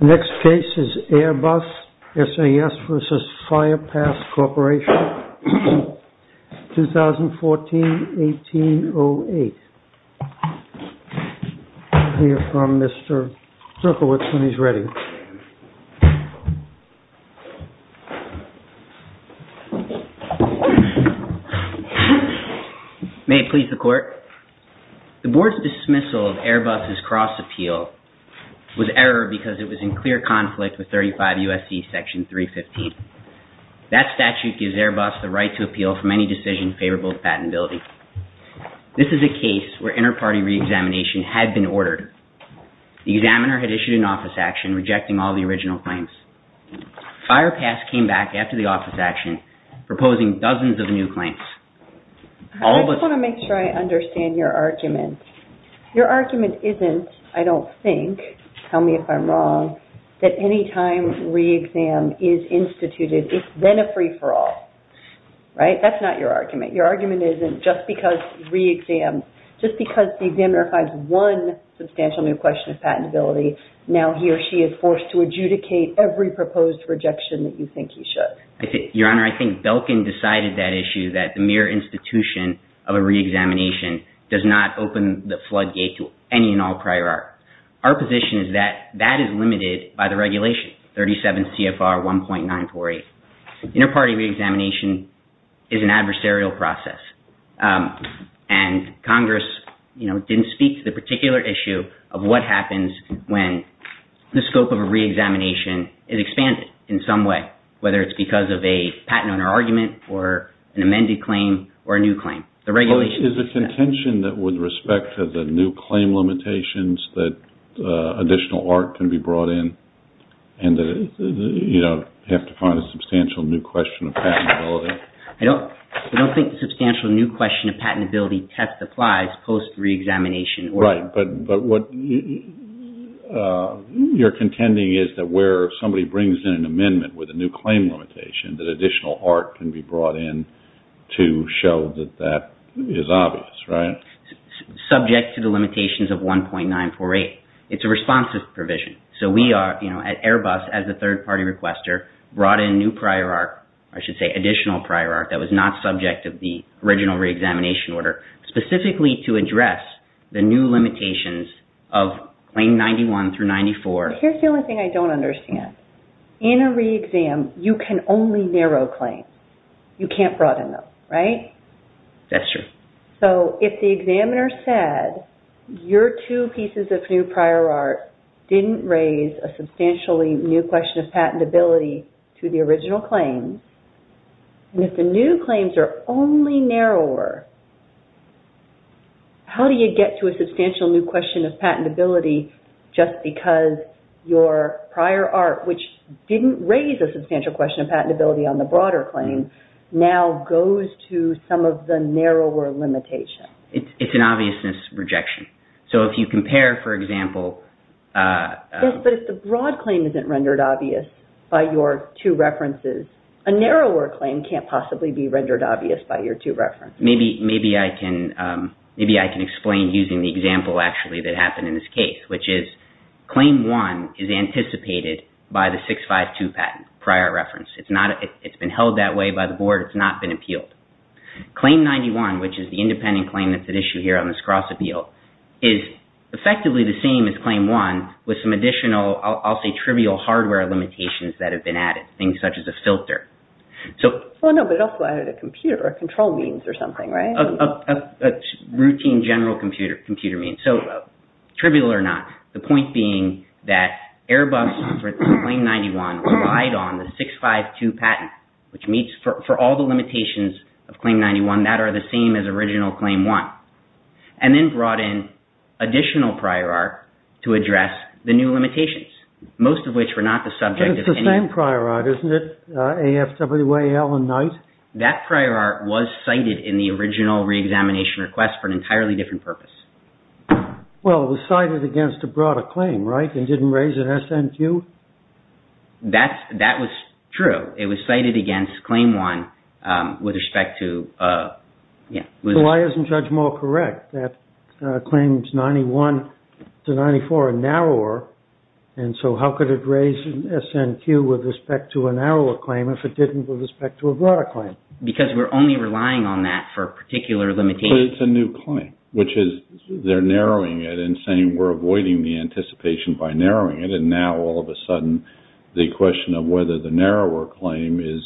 Next case is Airbus S.A.S. v. Firepass Corporation, 2014-18-08. May it please the Court, the Board's dismissal of Airbus' cross-appeal was error because it was in clear conflict with 35 U.S.C. section 315. That statute gives Airbus the right to re-examination had been ordered. The examiner had issued an office action rejecting all the original claims. Firepass came back after the office action proposing dozens of new claims. I just want to make sure I understand your argument. Your argument isn't, I don't think, tell me if I'm wrong, that any time re-exam is instituted, it's then a free-for-all. Right? That's not your argument. Your argument isn't just because re-exam, just because the examiner finds one substantial new question of patentability, now he or she is forced to adjudicate every proposed rejection that you think he should. Your Honor, I think Belkin decided that issue that the mere institution of a re-examination does not open the floodgate to any and all prior art. Our position is that that is limited by the regulation, 37 CFR 1.948. Inter-party re-examination is an adversarial process. Congress didn't speak to the particular issue of what happens when the scope of a re-examination is expanded in some way, whether it's because of a patent owner argument or an amended claim or a new claim. Is the contention that with respect to the new claim limitations that additional art can be brought in and that you have to find a substantial new question of patentability? I don't think the substantial new question of patentability test applies post re-examination. Right, but what you're contending is that where somebody brings in an amendment with a new claim limitation, that additional art can be brought in to show that that is obvious, right? Subject to the limitations of 1.948. It's a responsive provision. So we are at Airbus as a third-party requester, brought in new prior art, I should say additional prior art that was not subject of the original re-examination order, specifically to address the new limitations of claim 91 through 94. Here's the only thing I don't understand. In a re-exam, you can only narrow claims. You can't broaden them, right? That's true. So if the examiner said your two pieces of new prior art didn't raise a substantially new question of patentability to the original claim, and if the new claims are only narrower, how do you get to a substantial new question of patentability just because your prior art, which didn't raise a substantial question of patentability on the broader claim, now goes to some of the narrower limitations? It's an obviousness rejection. So if you compare, for example... Yes, but if the broad claim isn't rendered obvious by your two references, a narrower claim can't possibly be rendered obvious by your two references. Maybe I can explain using the example actually that happened in this case, which is claim one is anticipated by the 652 patent, prior reference. It's been held that way by the board. It's not been appealed. Claim 91, which is the independent claim that's at issue here on this cross-appeal, is effectively the same as claim one with some additional, I'll say trivial hardware limitations that have been added, things such as a filter. No, but also added a computer, a control means or something, right? A routine general computer means. So, trivial or not, the point being that Airbus for claim 91 relied on the 652 patent, which means for all the limitations of claim 91, that are the same as original claim one, and then brought in additional prior art to address the new limitations, most of which were not the subject of any... That's prior art, isn't it? AFWAL and Knight? That prior art was cited in the original re-examination request for an entirely different purpose. Well, it was cited against a broader claim, right? It didn't raise an SNQ? That was true. It was cited against claim one with respect to... Well, why isn't Judge Mall correct that claims 91 to 94 are narrower, and so how could it raise an SNQ with respect to a narrower claim if it didn't with respect to a broader claim? Because we're only relying on that for particular limitations. Well, it's a new claim, which is they're narrowing it and saying we're avoiding the anticipation by narrowing it, and now all of a sudden the question of whether the narrower claim is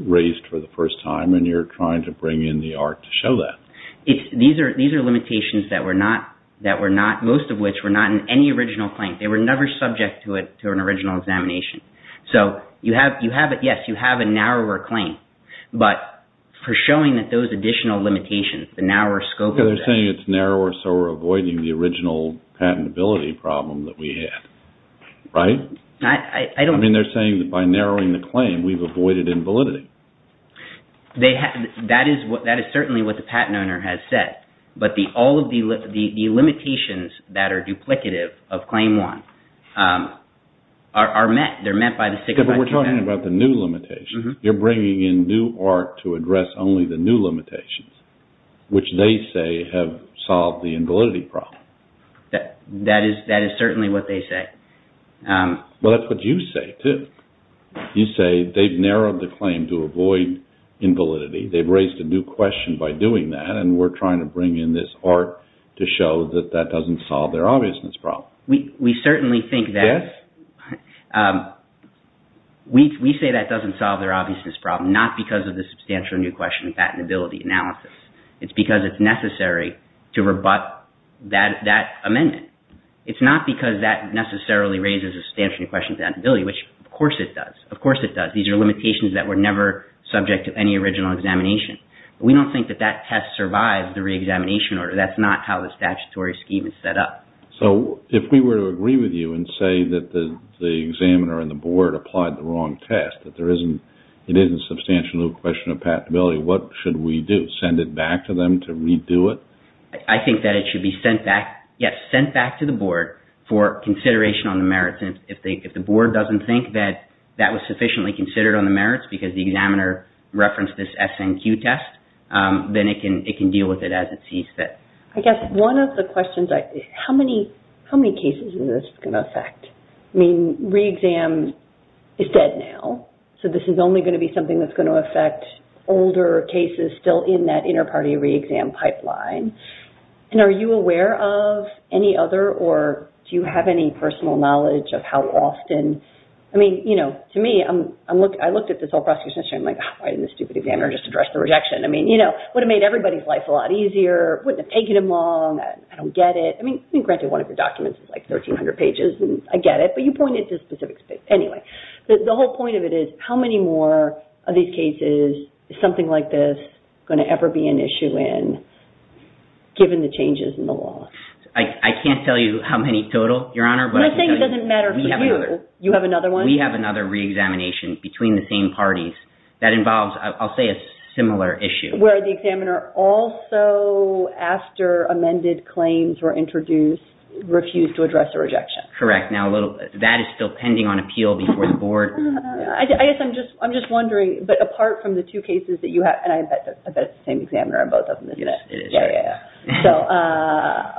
raised for the first time, and you're trying to bring in the art to show that. These are limitations that were not, most of which were not in any original claim. They were never subject to an original examination. So, yes, you have a narrower claim, but for showing that those additional limitations, the narrower scope... They're saying it's narrower, so we're avoiding the original patentability problem that we had, right? I don't... I mean, they're saying that by narrowing the claim, we've avoided invalidity. That is certainly what the patent owner has said, but all of the limitations that are duplicative of claim one are met. They're met by the six... But we're talking about the new limitations. You're bringing in new art to address only the new limitations, which they say have solved the invalidity problem. That is certainly what they say. Well, that's what you say, too. You say they've narrowed the claim to avoid invalidity. They've raised a new question by doing that, and we're trying to bring in this art to show that that doesn't solve their obviousness problem. We certainly think that... We say that doesn't solve their obviousness problem, not because of the substantial new question of patentability analysis. It's because it's necessary to rebut that amendment. It's not because that necessarily raises a substantial new question of patentability, which of course it does. Of course it does. These are limitations that were never subject to any original examination. We don't think that that test survives the reexamination order. That's not how the statutory scheme is set up. So if we were to agree with you and say that the examiner and the board applied the wrong test, that there isn't... It isn't a substantial new question of patentability, what should we do? Should we send it back to them to redo it? I think that it should be sent back to the board for consideration on the merits. If the board doesn't think that that was sufficiently considered on the merits because the examiner referenced this SNQ test, then it can deal with it as it sees fit. I guess one of the questions... How many cases is this going to affect? I mean, reexam is dead now, so this is only going to be something that's going to affect older cases still in that inter-party reexam pipeline. And are you aware of any other, or do you have any personal knowledge of how often... I mean, you know, to me, I looked at this whole prosecution history and I'm like, why didn't the stupid examiner just address the rejection? I mean, you know, it would have made everybody's life a lot easier. It wouldn't have taken them long. I don't get it. I mean, granted, one of your documents is like 1,300 pages, and I get it, but you point it to specific... Anyway, the whole point of it is how many more of these cases is something like this going to ever be an issue in, given the changes in the law? I can't tell you how many total, Your Honor, but I can tell you... I'm not saying it doesn't matter for you. We have another... You have another one? We have another reexamination between the same parties that involves, I'll say, a similar issue. Where the examiner also, after amended claims were introduced, refused to address the rejection. That's correct. Now, that is still pending on appeal before the board. I guess I'm just wondering, but apart from the two cases that you have, and I bet it's the same examiner on both of them, isn't it? Yes, it is. Yeah, yeah, yeah. So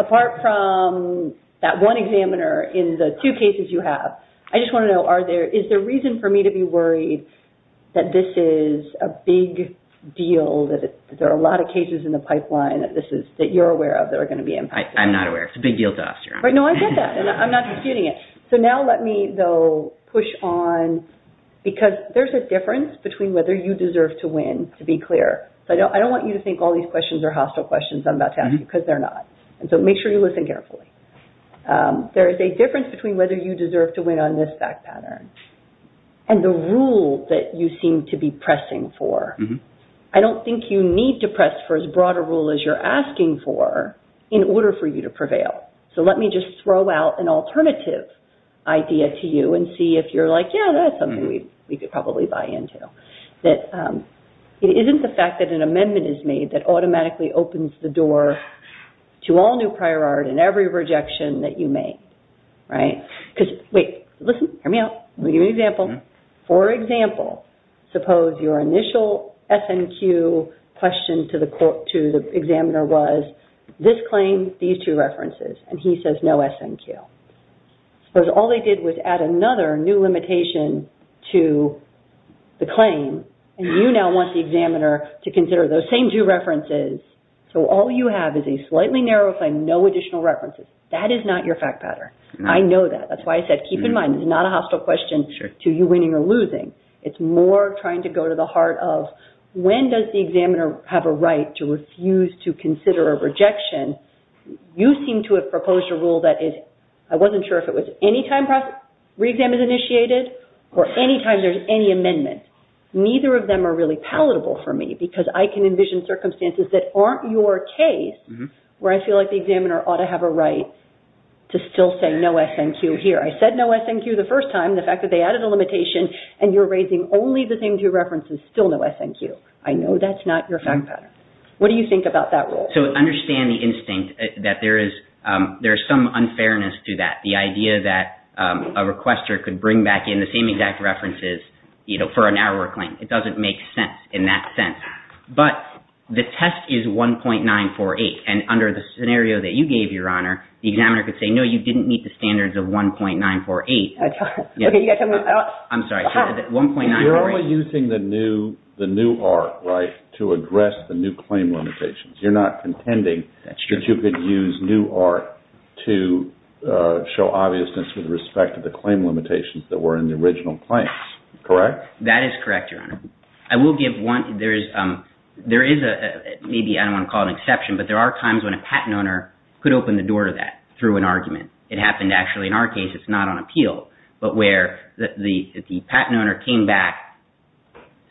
apart from that one examiner in the two cases you have, I just want to know, is there reason for me to be worried that this is a big deal, that there are a lot of cases in the pipeline that you're aware of that are going to be impacted? I'm not aware. It's a big deal to us, Your Honor. No, I get that, and I'm not disputing it. So now let me, though, push on... Because there's a difference between whether you deserve to win, to be clear. So I don't want you to think all these questions are hostile questions I'm about to ask you, because they're not. So make sure you listen carefully. There is a difference between whether you deserve to win on this fact pattern and the rule that you seem to be pressing for. I don't think you need to press for as broad a rule as you're asking for in order for you to prevail. So let me just throw out an alternative idea to you and see if you're like, yeah, that's something we could probably buy into, that it isn't the fact that an amendment is made that automatically opens the door to all new prior art and every rejection that you make, right? Because, wait, listen, hear me out. I'm going to give you an example. For example, suppose your initial S&Q question to the examiner was, this claim, these two references, and he says no S&Q. Suppose all they did was add another new limitation to the claim, and you now want the examiner to consider those same two references, so all you have is a slightly narrower claim, no additional references. That is not your fact pattern. I know that. That's why I said keep in mind it's not a hostile question to you winning or losing. It's more trying to go to the heart of, when does the examiner have a right to refuse to consider a rejection? You seem to have proposed a rule that I wasn't sure if it was any time reexam is initiated or any time there's any amendment. Neither of them are really palatable for me because I can envision circumstances that aren't your case where I feel like the examiner ought to have a right to still say no S&Q here. I said no S&Q the first time, the fact that they added a limitation, and you're raising only the same two references, still no S&Q. I know that's not your fact pattern. What do you think about that rule? So understand the instinct that there is some unfairness to that, the idea that a requester could bring back in the same exact references for a narrower claim. It doesn't make sense in that sense. But the test is 1.948, and under the scenario that you gave, Your Honor, the examiner could say no, you didn't meet the standards of 1.948. I'm sorry, 1.948? You're only using the new art, right, to address the new claim limitations. You're not contending that you could use new art to show obviousness with respect to the claim limitations that were in the original claims, correct? That is correct, Your Honor. I will give one, there is, maybe I don't want to call it an exception, but there are times when a patent owner could open the door to that through an argument. It happened, actually, in our case, it's not on appeal, but where the patent owner came back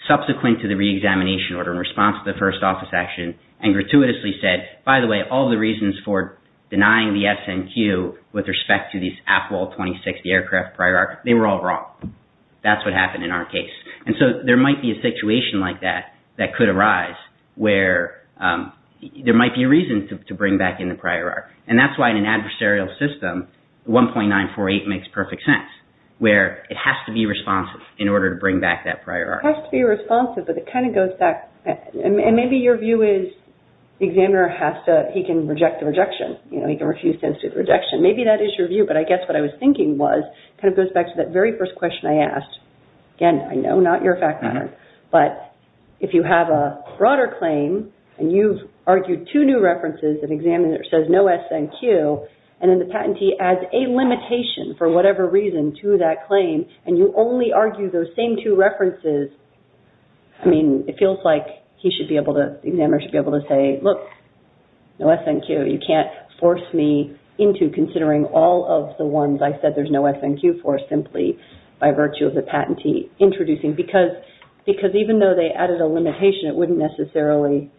subsequent to the re-examination order in response to the first office action and gratuitously said, by the way, all the reasons for denying the SNQ with respect to these APOL 26, the aircraft prior art, they were all wrong. That's what happened in our case. And so there might be a situation like that that could arise where there might be a reason to bring back in the prior art. And that's why in an adversarial system, 1.948 makes perfect sense, where it has to be responsive in order to bring back that prior art. It has to be responsive, but it kind of goes back, and maybe your view is the examiner has to, he can reject the rejection. You know, he can refuse to institute the rejection. Maybe that is your view, but I guess what I was thinking was, it kind of goes back to that very first question I asked. Again, I know, not your fact pattern, but if you have a broader claim and you've argued two new references, an examiner says no SNQ, and then the patentee adds a limitation for whatever reason to that claim, and you only argue those same two references, I mean, it feels like he should be able to, the examiner should be able to say, look, no SNQ. You can't force me into considering all of the ones I said there's no SNQ for simply by virtue of the patentee introducing. Because even though they added a limitation, it wouldn't necessarily,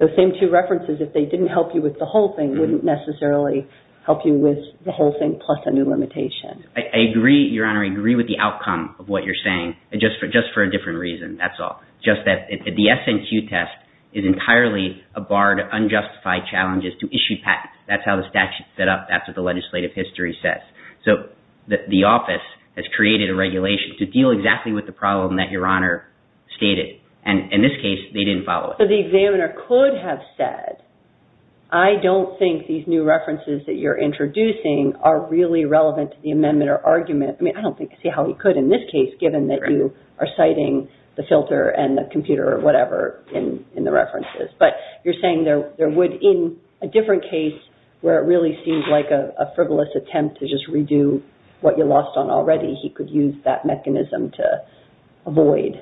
those same two references, if they didn't help you with the whole thing, wouldn't necessarily help you with the whole thing plus a new limitation. I agree, Your Honor, I agree with the outcome of what you're saying, just for a different reason, that's all. Just that the SNQ test is entirely a bar to unjustified challenges to issue patents. That's how the statute is set up. That's what the legislative history says. So the office has created a regulation to deal exactly with the problem that Your Honor stated, and in this case, they didn't follow it. But the examiner could have said, I don't think these new references that you're introducing are really relevant to the amendment or argument. I mean, I don't see how he could in this case, given that you are citing the filter and the computer or whatever in the references. But you're saying there would, in a different case, where it really seems like a frivolous attempt to just redo what you lost on already, he could use that mechanism to avoid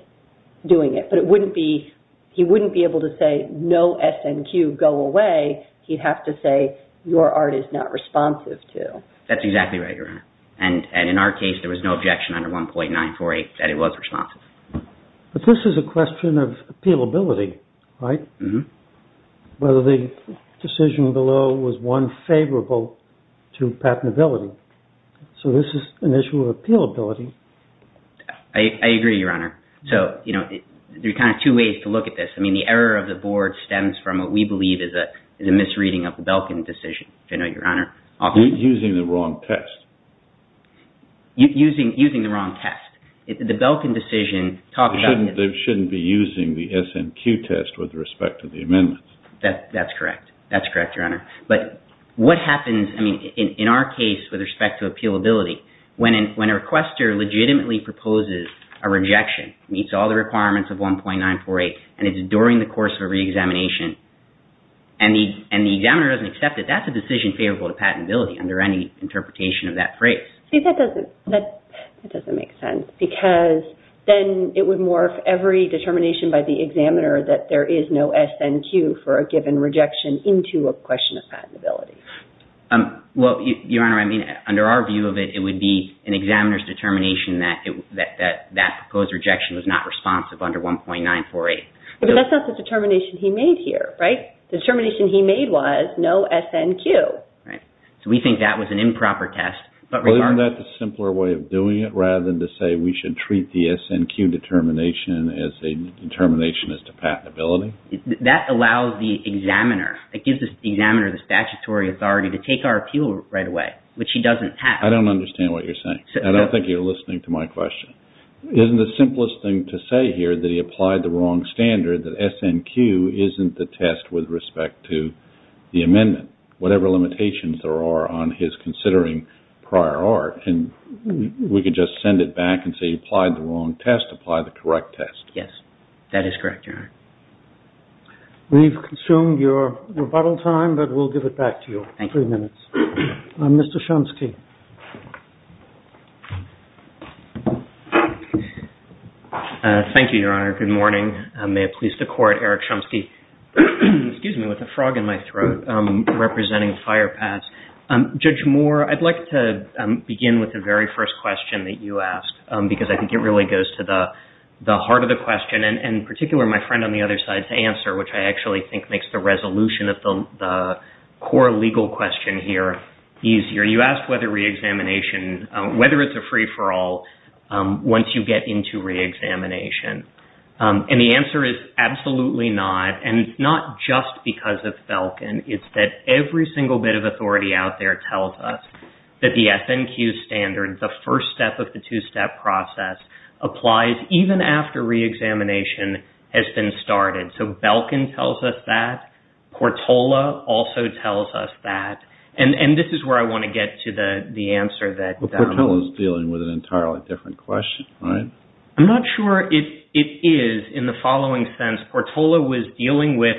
doing it. But it wouldn't be, he wouldn't be able to say, no SNQ, go away. He'd have to say, your art is not responsive to. That's exactly right, Your Honor. And in our case, there was no objection under 1.948 that it was responsive. But this is a question of appealability, right? Whether the decision below was one favorable to patentability. So this is an issue of appealability. I agree, Your Honor. So, you know, there are kind of two ways to look at this. I mean, the error of the board stems from what we believe is a misreading of the Belkin decision. I know, Your Honor. Using the wrong test. Using the wrong test. The Belkin decision talks about. They shouldn't be using the SNQ test with respect to the amendments. That's correct. That's correct, Your Honor. But what happens, I mean, in our case with respect to appealability, when a requester legitimately proposes a rejection, meets all the requirements of 1.948, and it's during the course of a reexamination, and the examiner doesn't accept it, that's a decision favorable to patentability under any interpretation of that phrase. See, that doesn't make sense because then it would morph every determination by the examiner that there is no SNQ for a given rejection into a question of patentability. Well, Your Honor, I mean, under our view of it, it would be an examiner's determination that that proposed rejection was not responsive under 1.948. But that's not the determination he made here, right? The determination he made was no SNQ. So we think that was an improper test. Well, isn't that the simpler way of doing it rather than to say we should treat the SNQ determination as a determination as to patentability? That allows the examiner, it gives the examiner the statutory authority to take our appeal right away, which he doesn't have. I don't understand what you're saying. I don't think you're listening to my question. Isn't the simplest thing to say here that he applied the wrong standard, that SNQ isn't the test with respect to the amendment? Whatever limitations there are on his considering prior art, we could just send it back and say he applied the wrong test, apply the correct test. Yes, that is correct, Your Honor. We've consumed your rebuttal time, but we'll give it back to you. Thank you. Three minutes. Mr. Chomsky. Thank you, Your Honor. Good morning. May it please the Court, Eric Chomsky. Excuse me, with a frog in my throat representing Firepass. Judge Moore, I'd like to begin with the very first question that you asked because I think it really goes to the heart of the question and in particular my friend on the other side's answer, which I actually think makes the resolution of the core legal question here easier. You asked whether reexamination, whether it's a free-for-all once you get into reexamination. And the answer is absolutely not, and not just because of Belkin. It's that every single bit of authority out there tells us that the FNQ standard, the first step of the two-step process, applies even after reexamination has been started. So Belkin tells us that. Portola also tells us that. And this is where I want to get to the answer that- Well, Portola's dealing with an entirely different question, right? I'm not sure it is in the following sense. Portola was dealing with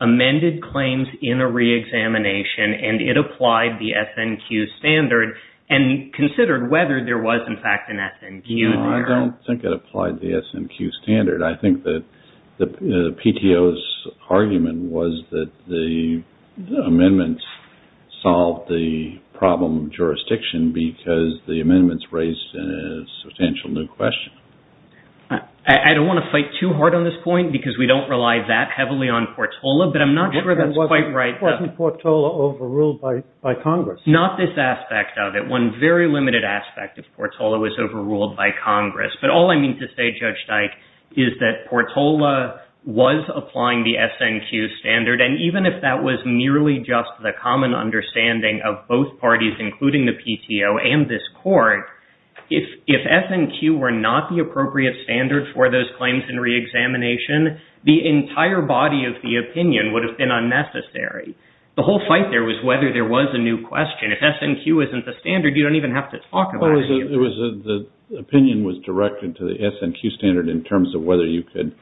amended claims in a reexamination and it applied the FNQ standard and considered whether there was in fact an FNQ there. No, I don't think it applied the FNQ standard. I think that the PTO's argument was that the amendments solved the problem of jurisdiction because the amendments raised a substantial new question. I don't want to fight too hard on this point because we don't rely that heavily on Portola, but I'm not sure that's quite right. Wasn't Portola overruled by Congress? Not this aspect of it. One very limited aspect of Portola was overruled by Congress. But all I mean to say, Judge Dyke, is that Portola was applying the FNQ standard, and even if that was merely just the common understanding of both parties, including the PTO and this Court, if FNQ were not the appropriate standard for those claims in reexamination, the entire body of the opinion would have been unnecessary. The whole fight there was whether there was a new question. If FNQ isn't the standard, you don't even have to talk about it. The opinion was directed to the FNQ standard in terms of whether you could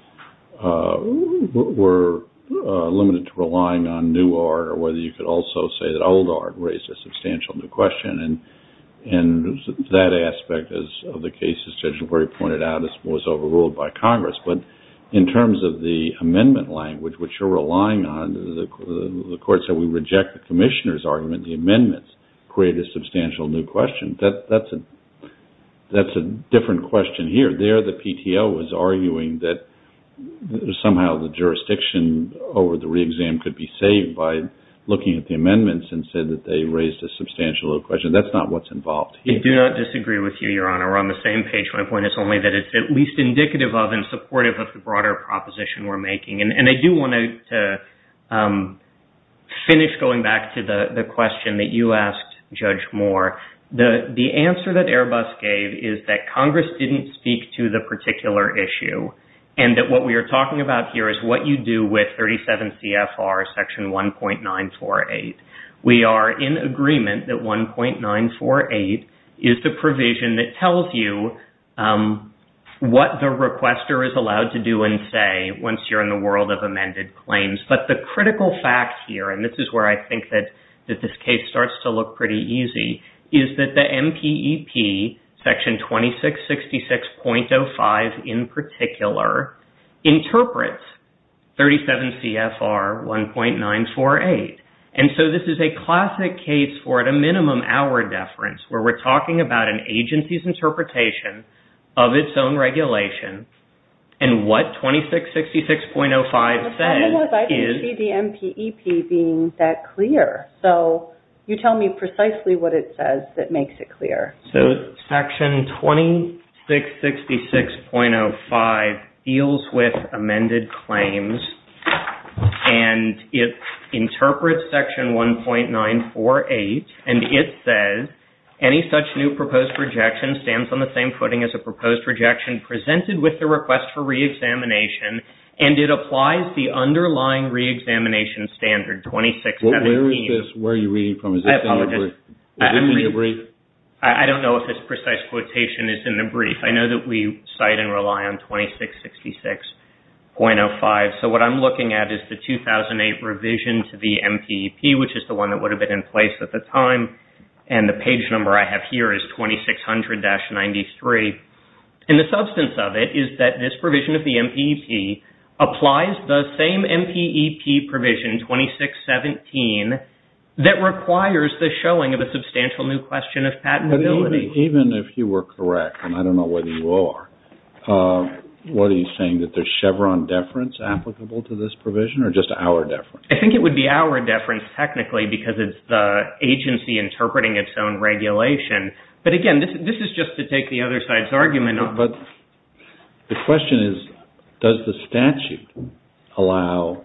were limited to relying on new art or whether you could also say that old art raised a substantial new question, and that aspect of the case, as Judge LaGuardia pointed out, was overruled by Congress. But in terms of the amendment language, which you're relying on, the Court said we reject the Commissioner's argument, the amendments create a substantial new question. That's a different question here. There the PTO was arguing that somehow the jurisdiction over the reexam could be saved by looking at the amendments and said that they raised a substantial new question. That's not what's involved here. I do not disagree with you, Your Honor. We're on the same page. My point is only that it's at least indicative of and supportive of the broader proposition we're making. And I do want to finish going back to the question that you asked, Judge Moore. The answer that Airbus gave is that Congress didn't speak to the particular issue and that what we are talking about here is what you do with 37 CFR section 1.948. We are in agreement that 1.948 is the provision that tells you what the requester is allowed to do and say once you're in the world of amended claims. But the critical fact here, and this is where I think that this case starts to look pretty easy, is that the MPEP, section 2666.05 in particular, interprets 37 CFR 1.948. And so this is a classic case for a minimum hour deference where we're talking about an agency's interpretation of its own regulation and what 2666.05 says is... I didn't see the MPEP being that clear. So you tell me precisely what it says that makes it clear. So section 2666.05 deals with amended claims and it interprets section 1.948 and it says, any such new proposed rejection stands on the same footing as a proposed rejection presented with the request for reexamination and it applies the underlying reexamination standard 2617. Where is this? Where are you reading from? Is this in the brief? I don't know if this precise quotation is in the brief. I know that we cite and rely on 2666.05. So what I'm looking at is the 2008 revision to the MPEP, which is the one that would have been in place at the time, and the page number I have here is 2600-93. And the substance of it is that this provision of the MPEP applies the same MPEP provision, 2617, that requires the showing of a substantial new question of patentability. Even if you were correct, and I don't know whether you are, what are you saying, that there's Chevron deference applicable to this provision or just our deference? I think it would be our deference technically because it's the agency interpreting its own regulation. But again, this is just to take the other side's argument. But the question is, does the statute allow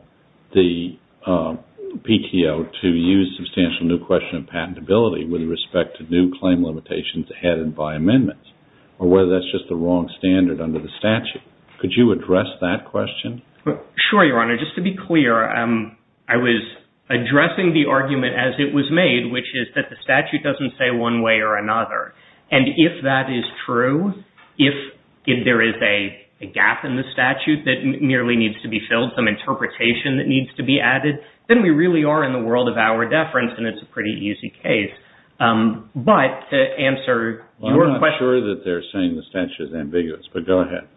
the PTO to use substantial new question of patentability with respect to new claim limitations added by amendments? Or whether that's just the wrong standard under the statute. Could you address that question? Sure, Your Honor. Just to be clear, I was addressing the argument as it was made, which is that the statute doesn't say one way or another. And if that is true, if there is a gap in the statute that merely needs to be filled, some interpretation that needs to be added, then we really are in the world of our deference, and it's a pretty easy case. But to answer your question... I'm not sure that they're saying the statute is ambiguous, but go ahead.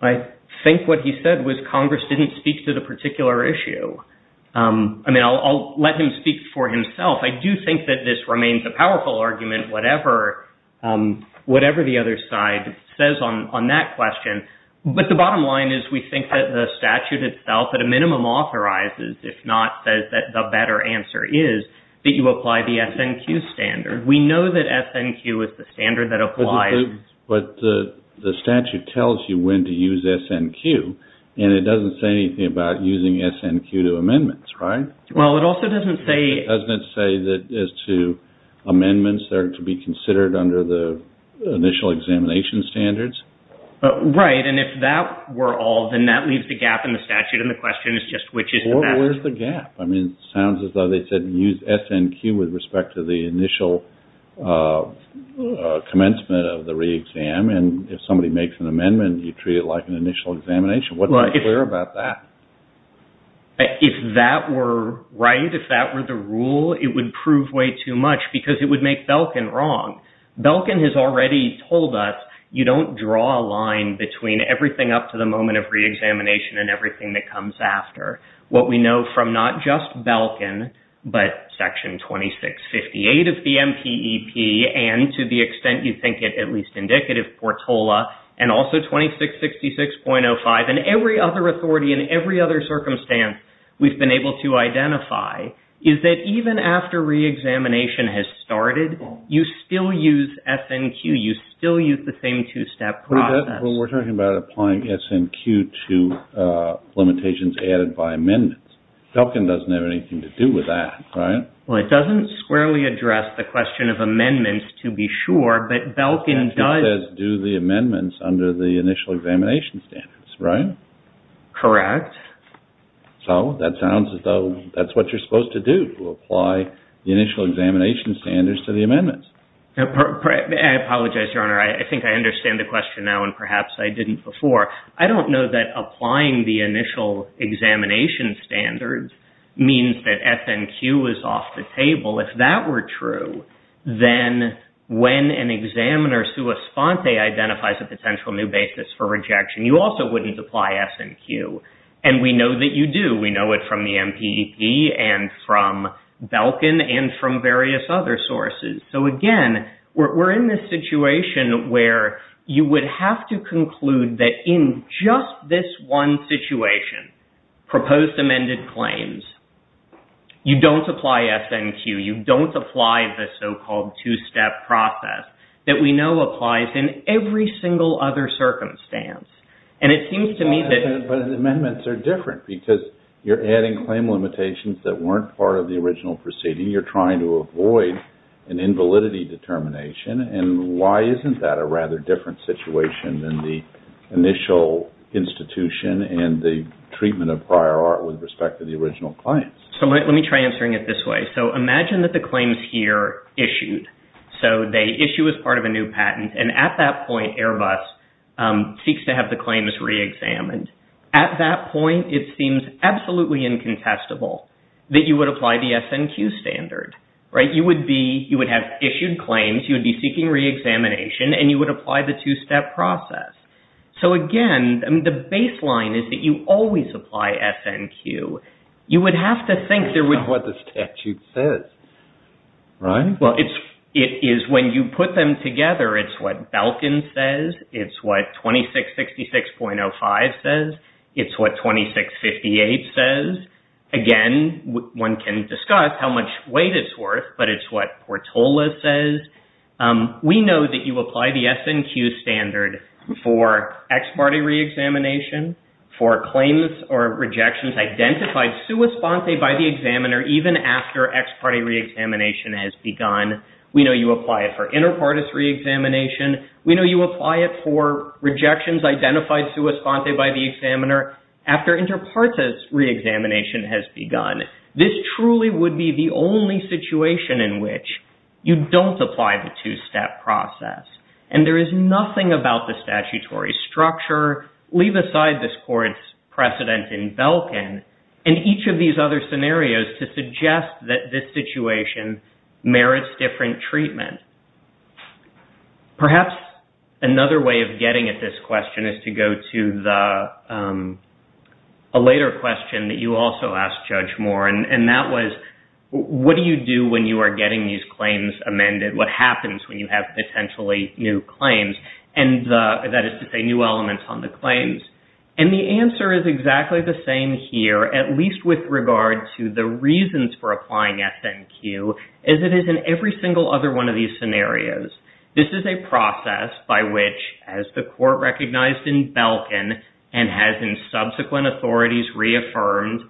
I think what he said was Congress didn't speak to the particular issue. I mean, I'll let him speak for himself. I do think that this remains a powerful argument, whatever the other side says on that question. But the bottom line is we think that the statute itself, at a minimum, authorizes, if not says that the better answer is, that you apply the SNQ standard. We know that SNQ is the standard that applies... But the statute tells you when to use SNQ, and it doesn't say anything about using SNQ to amendments, right? Well, it also doesn't say... It doesn't say that as to amendments, they're to be considered under the initial examination standards? Right, and if that were all, then that leaves the gap in the statute, and the question is just which is the best... Or where's the gap? I mean, it sounds as though they said use SNQ with respect to the initial commencement of the re-exam, and if somebody makes an amendment, you treat it like an initial examination. What's not clear about that? If that were right, if that were the rule, it would prove way too much because it would make Belkin wrong. Belkin has already told us you don't draw a line between everything up to the moment of re-examination and everything that comes after. What we know from not just Belkin, but Section 2658 of the MPEP, and to the extent you think it at least indicative, Portola, and also 2666.05, and every other authority and every other circumstance we've been able to identify, is that even after re-examination has started, you still use SNQ. You still use the same two-step process. We're talking about applying SNQ to limitations added by amendments. Belkin doesn't have anything to do with that, right? Well, it doesn't squarely address the question of amendments, to be sure, but Belkin does... It says do the amendments under the initial examination standards, right? Correct. So, that sounds as though that's what you're supposed to do, to apply the initial examination standards to the amendments. I apologize, Your Honor. I think I understand the question now, and perhaps I didn't before. I don't know that applying the initial examination standards means that SNQ is off the table. If that were true, then when an examiner sua sponte identifies a potential new basis for rejection, you also wouldn't apply SNQ. And we know that you do. We know it from the MPEP and from Belkin and from various other sources. So, again, we're in this situation where you would have to conclude that in just this one situation, proposed amended claims, you don't apply SNQ, you don't apply the so-called two-step process that we know applies in every single other circumstance. And it seems to me that... But the amendments are different because you're adding claim limitations that weren't part of the original proceeding. You're trying to avoid an invalidity determination. And why isn't that a rather different situation than the initial institution and the treatment of prior art with respect to the original claims? So, let me try answering it this way. So, imagine that the claims here issued. So, they issue as part of a new patent. And at that point, Airbus seeks to have the claims reexamined. At that point, it seems absolutely incontestable that you would apply the SNQ standard, right? You would have issued claims, you would be seeking reexamination, and you would apply the two-step process. So, again, the baseline is that you always apply SNQ. You would have to think there would... It's not what the statute says, right? Well, it is when you put them together, it's what Belkin says, it's what 2666.05 says, it's what 2658 says. Again, one can discuss how much weight it's worth, but it's what Portola says. We know that you apply the SNQ standard for ex parte reexamination, for claims or rejections identified sua sponte by the examiner even after ex parte reexamination has begun. We know you apply it for inter partes reexamination. We know you apply it for rejections identified sua sponte by the examiner even after inter partes reexamination has begun. This truly would be the only situation in which you don't apply the two-step process. And there is nothing about the statutory structure, leave aside this court's precedent in Belkin, and each of these other scenarios to suggest that this situation merits different treatment. Perhaps another way of getting at this question is to go to a later question that you also asked, Judge Moore, and that was, what do you do when you are getting these claims amended? What happens when you have potentially new claims? And that is to say new elements on the claims. And the answer is exactly the same here, at least with regard to the reasons for applying SNQ, as it is in every single other one of these scenarios. This is a process by which, as the court recognized in Belkin and has in subsequent authorities reaffirmed,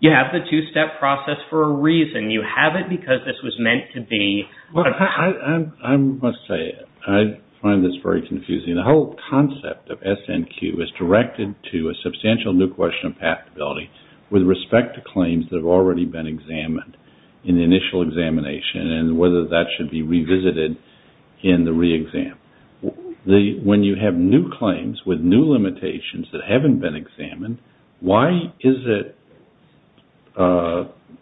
you have the two-step process for a reason. You have it because this was meant to be. I must say, I find this very confusing. The whole concept of SNQ is directed to a substantial new question of passability with respect to claims that have already been examined in the initial examination and whether that should be revisited in the reexam. When you have new claims with new limitations that haven't been examined, why does it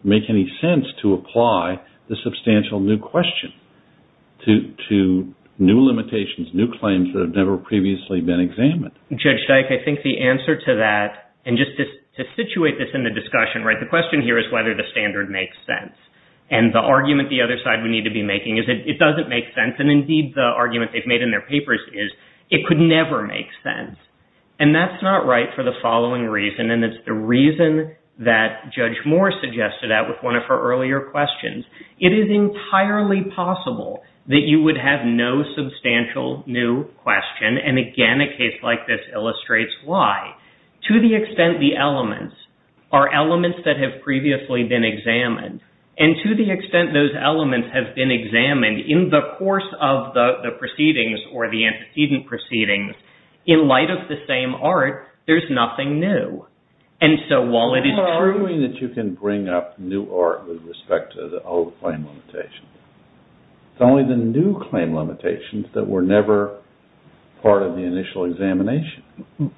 make any sense to apply the substantial new question to new limitations, new claims that have never previously been examined? Judge Dyke, I think the answer to that, and just to situate this in the discussion, the question here is whether the standard makes sense. And the argument the other side would need to be making is that it doesn't make sense, and indeed the argument they've made in their papers is it could never make sense. And that's not right for the following reason, and it's the reason that Judge Moore suggested that with one of her earlier questions. It is entirely possible that you would have no substantial new question, and again, a case like this illustrates why. To the extent the elements are elements that have previously been examined, and to the extent those elements have been examined in the course of the proceedings or the antecedent proceedings, in light of the same art, there's nothing new. And so while it is true... I'm not arguing that you can bring up new art with respect to the old claim limitations. It's only the new claim limitations that were never part of the initial examination.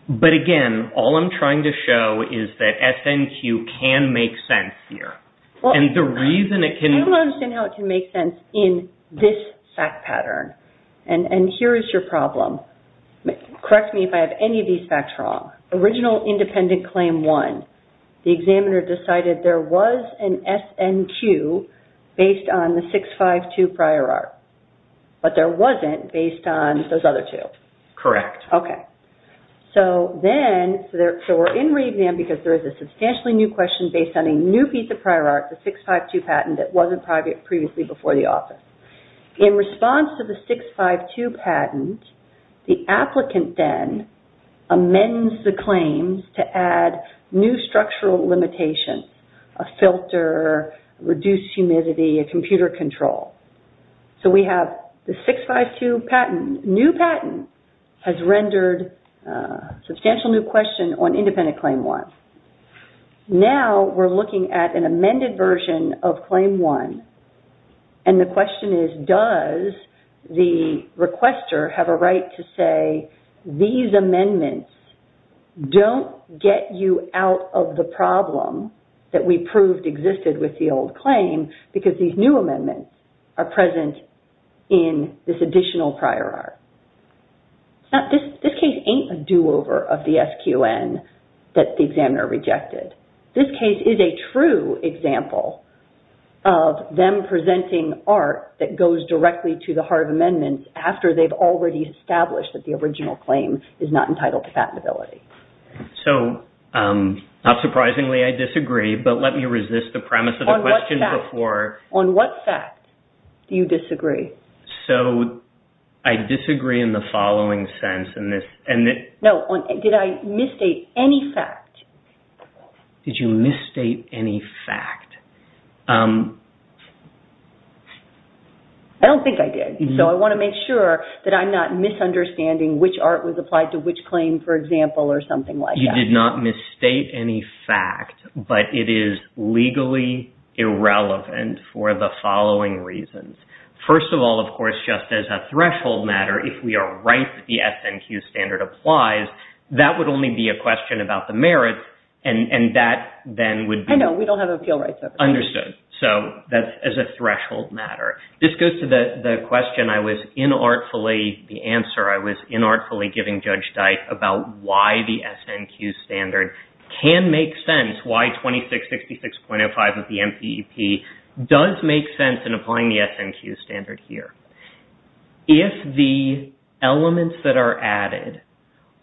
But again, all I'm trying to show is that SNQ can make sense here. And the reason it can... is this fact pattern. And here is your problem. Correct me if I have any of these facts wrong. Original independent claim one, the examiner decided there was an SNQ based on the 652 prior art, but there wasn't based on those other two. Correct. Okay. So then, so we're in re-exam because there is a substantially new question based on a new piece of prior art, the 652 patent, that wasn't previously before the office. In response to the 652 patent, the applicant then amends the claims to add new structural limitations. A filter, reduced humidity, a computer control. So we have the 652 patent. New patent has rendered a substantial new question on independent claim one. Now, we're looking at an amended version of claim one. And the question is, does the requester have a right to say, these amendments don't get you out of the problem that we proved existed with the old claim because these new amendments are present in this additional prior art. Now, this case ain't a do-over of the SQN that the examiner rejected. This case is a true example of them presenting art that goes directly to the heart of amendments after they've already established that the original claim is not entitled to patentability. So, not surprisingly, I disagree. But let me resist the premise of the question before. On what fact do you disagree? So, I disagree in the following sense. No, did I misstate any fact? Did you misstate any fact? I don't think I did. So, I want to make sure that I'm not misunderstanding which art was applied to which claim, for example, or something like that. You did not misstate any fact, but it is legally irrelevant for the following reasons. First of all, of course, just as a threshold matter, if we are right that the SNQ standard applies, that would only be a question about the merits, and that then would be... I know, we don't have appeal rights. Understood. So, that's as a threshold matter. This goes to the question I was inartfully, the answer I was inartfully giving Judge Dyke about why the SNQ standard can make sense, why 2666.05 of the MPEP does make sense in applying the SNQ standard here. If the elements that are added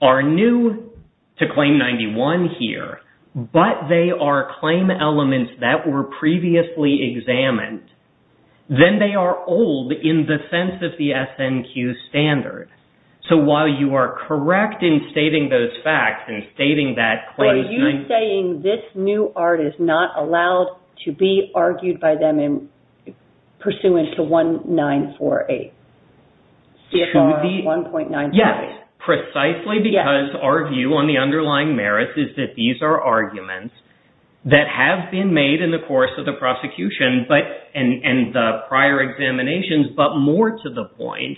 are new to Claim 91 here, but they are claim elements that were previously examined, then they are old in the sense of the SNQ standard. So, while you are correct in stating those facts and stating that Claim 91... Are you saying this new art is not allowed to be argued by them pursuant to 1948, CFR 1.948? Yes, precisely because our view on the underlying merits is that these are arguments that have been made in the course of the prosecution and the prior examinations, but more to the point.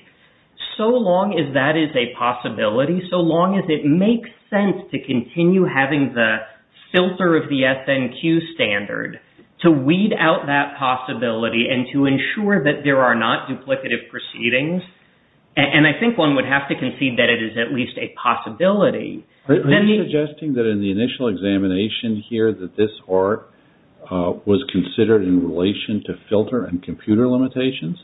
So long as that is a possibility, so long as it makes sense to continue having the filter of the SNQ standard, to weed out that possibility and to ensure that there are not duplicative proceedings, and I think one would have to concede that it is at least a possibility. Are you suggesting that in the initial examination here that this art was considered in relation to filter and computer limitations?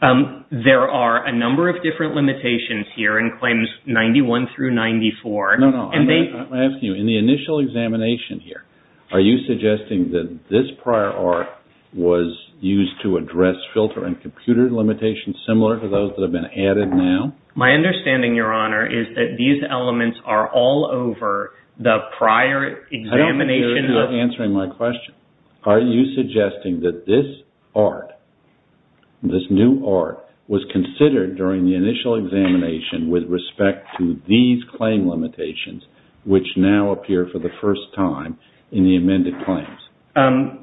There are a number of different limitations here in Claims 91 through 94. I'm asking you, in the initial examination here, are you suggesting that this prior art was used to address filter and computer limitations similar to those that have been added now? My understanding, Your Honor, is that these elements are all over the prior examination... I don't think you're answering my question. Are you suggesting that this art, this new art, was considered during the initial examination with respect to these claim limitations, which now appear for the first time in the amended claims?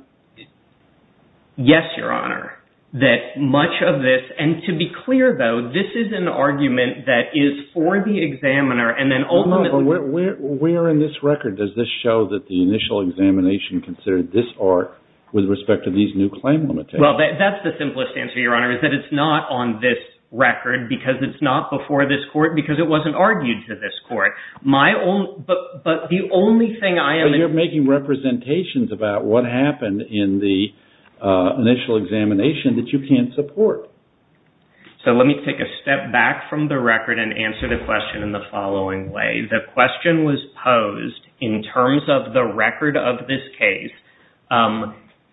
Yes, Your Honor. That much of this... And to be clear, though, this is an argument that is for the examiner and then ultimately... No, but where in this record does this show that the initial examination considered this art with respect to these new claim limitations? Well, that's the simplest answer, Your Honor, is that it's not on this record because it's not before this court because it wasn't argued to this court. My own... But the only thing I am... But you're making representations about what happened in the initial examination that you can't support. So let me take a step back from the record and answer the question in the following way. The question was posed in terms of the record of this case.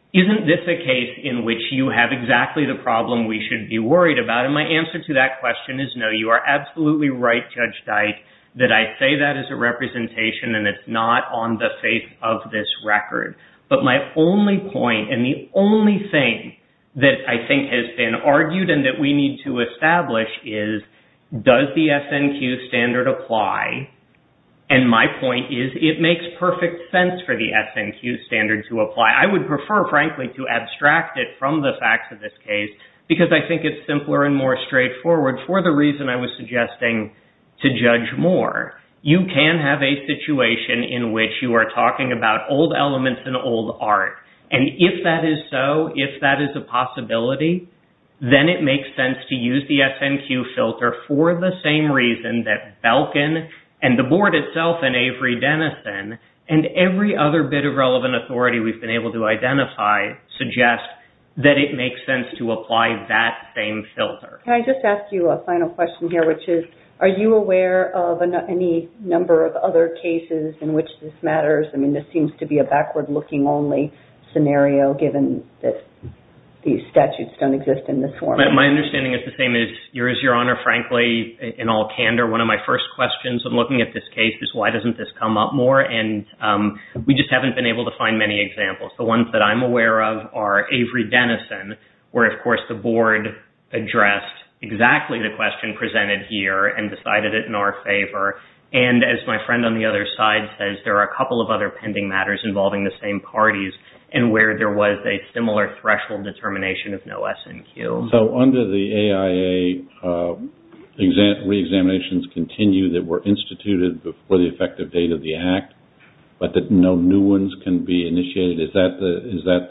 Isn't this a case in which you have exactly the problem we should be worried about? And my answer to that question is no. You are absolutely right, Judge Dike, that I say that as a representation and it's not on the face of this record. But my only point and the only thing that I think has been argued and that we need to establish is does the SNQ standard apply? And my point is it makes perfect sense for the SNQ standard to apply. I would prefer, frankly, to abstract it from the facts of this case because I think it's simpler and more straightforward for the reason I was suggesting to Judge Moore. You can have a situation in which you are talking about old elements and old art. And if that is so, if that is a possibility, then it makes sense to use the SNQ filter for the same reason that Belkin and the board itself and Avery Dennison and every other bit of relevant authority we've been able to identify suggest that it makes sense to apply that same filter. Can I just ask you a final question here, which is are you aware of any number of other cases in which this matters? I mean, this seems to be a backward-looking-only scenario given that these statutes don't exist in this form. My understanding is the same as yours, Your Honor. Frankly, in all candor, one of my first questions in looking at this case is why doesn't this come up more? And we just haven't been able to find many examples. The ones that I'm aware of are Avery Dennison, where, of course, the board addressed exactly the question presented here and decided it in our favor. And as my friend on the other side says, there are a couple of other pending matters involving the same parties and where there was a similar threshold determination of no SNQ. So under the AIA, reexaminations continue that were instituted before the effective date of the Act, but that no new ones can be initiated. Is that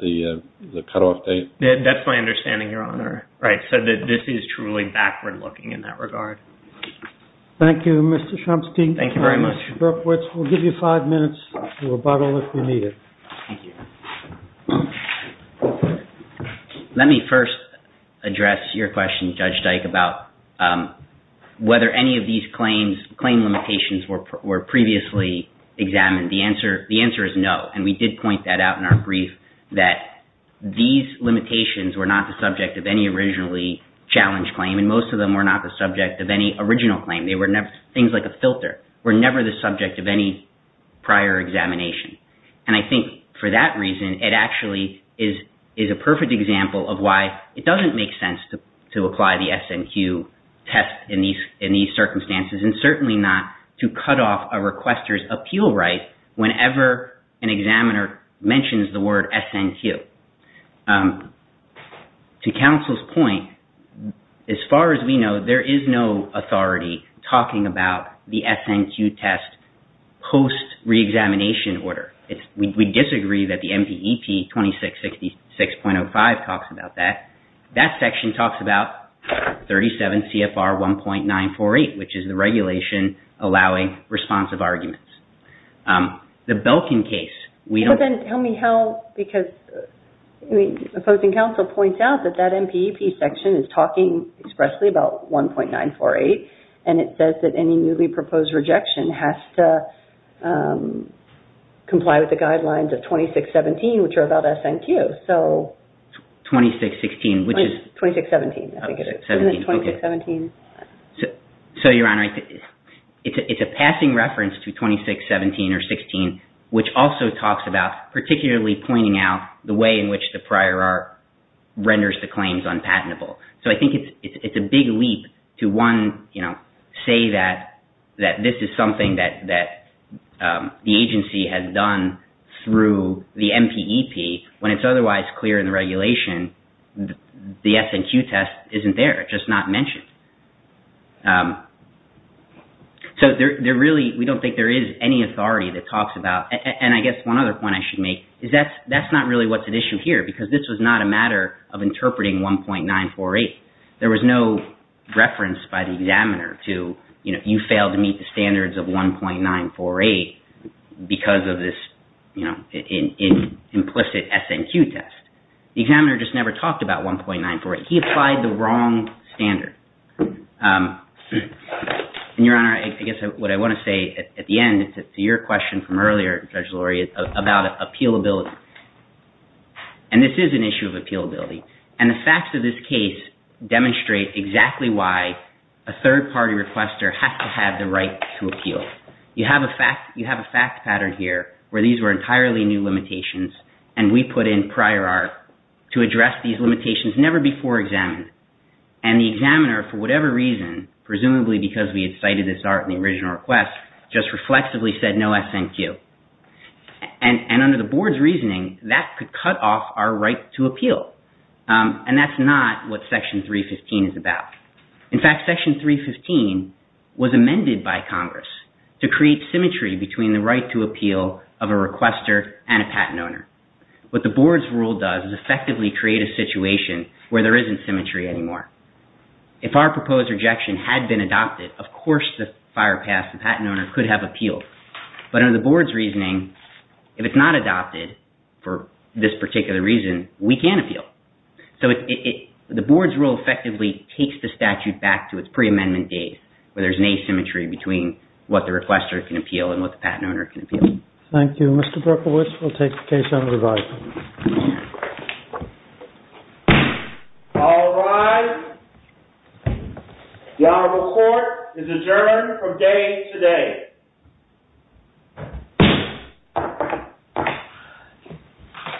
the cutoff date? That's my understanding, Your Honor. Right, so this is truly backward-looking in that regard. Thank you, Mr. Chomsky. Thank you very much. Mr. Berkowitz, we'll give you five minutes to rebuttal if you need it. Thank you. Let me first address your question, Judge Dyke, about whether any of these claims, claim limitations were previously examined. The answer is no, and we did point that out in our brief that these limitations were not the subject of any originally challenged claim, and most of them were not the subject of any original claim. Things like a filter were never the subject of any prior examination. And I think for that reason, it actually is a perfect example of why it doesn't make sense to apply the SNQ test in these circumstances and certainly not to cut off a requester's appeal right whenever an examiner mentions the word SNQ. To counsel's point, as far as we know, there is no authority talking about the SNQ test post-reexamination order. We disagree that the MPEP 2666.05 talks about that. That section talks about 37 CFR 1.948, which is the regulation allowing responsive arguments. The Belkin case, we don't... But then tell me how, because the opposing counsel points out that that MPEP section is talking expressly about 1.948, and it says that any newly proposed rejection has to comply with the guidelines of 2617, which are about SNQ. 2616, which is... 2617, I think it is. So, Your Honor, it's a passing reference to 2617 or 16, which also talks about particularly pointing out the way in which the prior art renders the claims unpatentable. So I think it's a big leap to, one, say that this is something that the agency has done through the MPEP when it's otherwise clear in the regulation that the SNQ test isn't there. It's just not mentioned. So there really... We don't think there is any authority that talks about... And I guess one other point I should make is that that's not really what's at issue here because this was not a matter of interpreting 1.948. There was no reference by the examiner to, you know, you failed to meet the standards of 1.948 because of this, you know, implicit SNQ test. The examiner just never talked about 1.948. He applied the wrong standard. And, Your Honor, I guess what I want to say at the end is to your question from earlier, Judge Lurie, about appealability. And this is an issue of appealability. And the facts of this case demonstrate exactly why a third-party requester has to have the right to appeal. You have a fact pattern here where these were entirely new limitations and we put in prior art to address these limitations never before examined. And the examiner, for whatever reason, presumably because we had cited this art in the original request, just reflexively said no SNQ. And under the board's reasoning, that could cut off our right to appeal. And that's not what Section 315 is about. In fact, Section 315 was amended by Congress to create symmetry between the right to appeal of a requester and a patent owner. What the board's rule does is effectively create a situation where there isn't symmetry anymore. If our proposed rejection had been adopted, of course the firepass, the patent owner, could have appealed. But under the board's reasoning, if it's not adopted for this particular reason, we can't appeal. So the board's rule effectively takes the statute back to its pre-amendment days where there's an asymmetry between what the requester can appeal and what the patent owner can appeal. Thank you. Mr. Berkowitz will take the case on review. All rise. The Honorable Court is adjourned from day to day.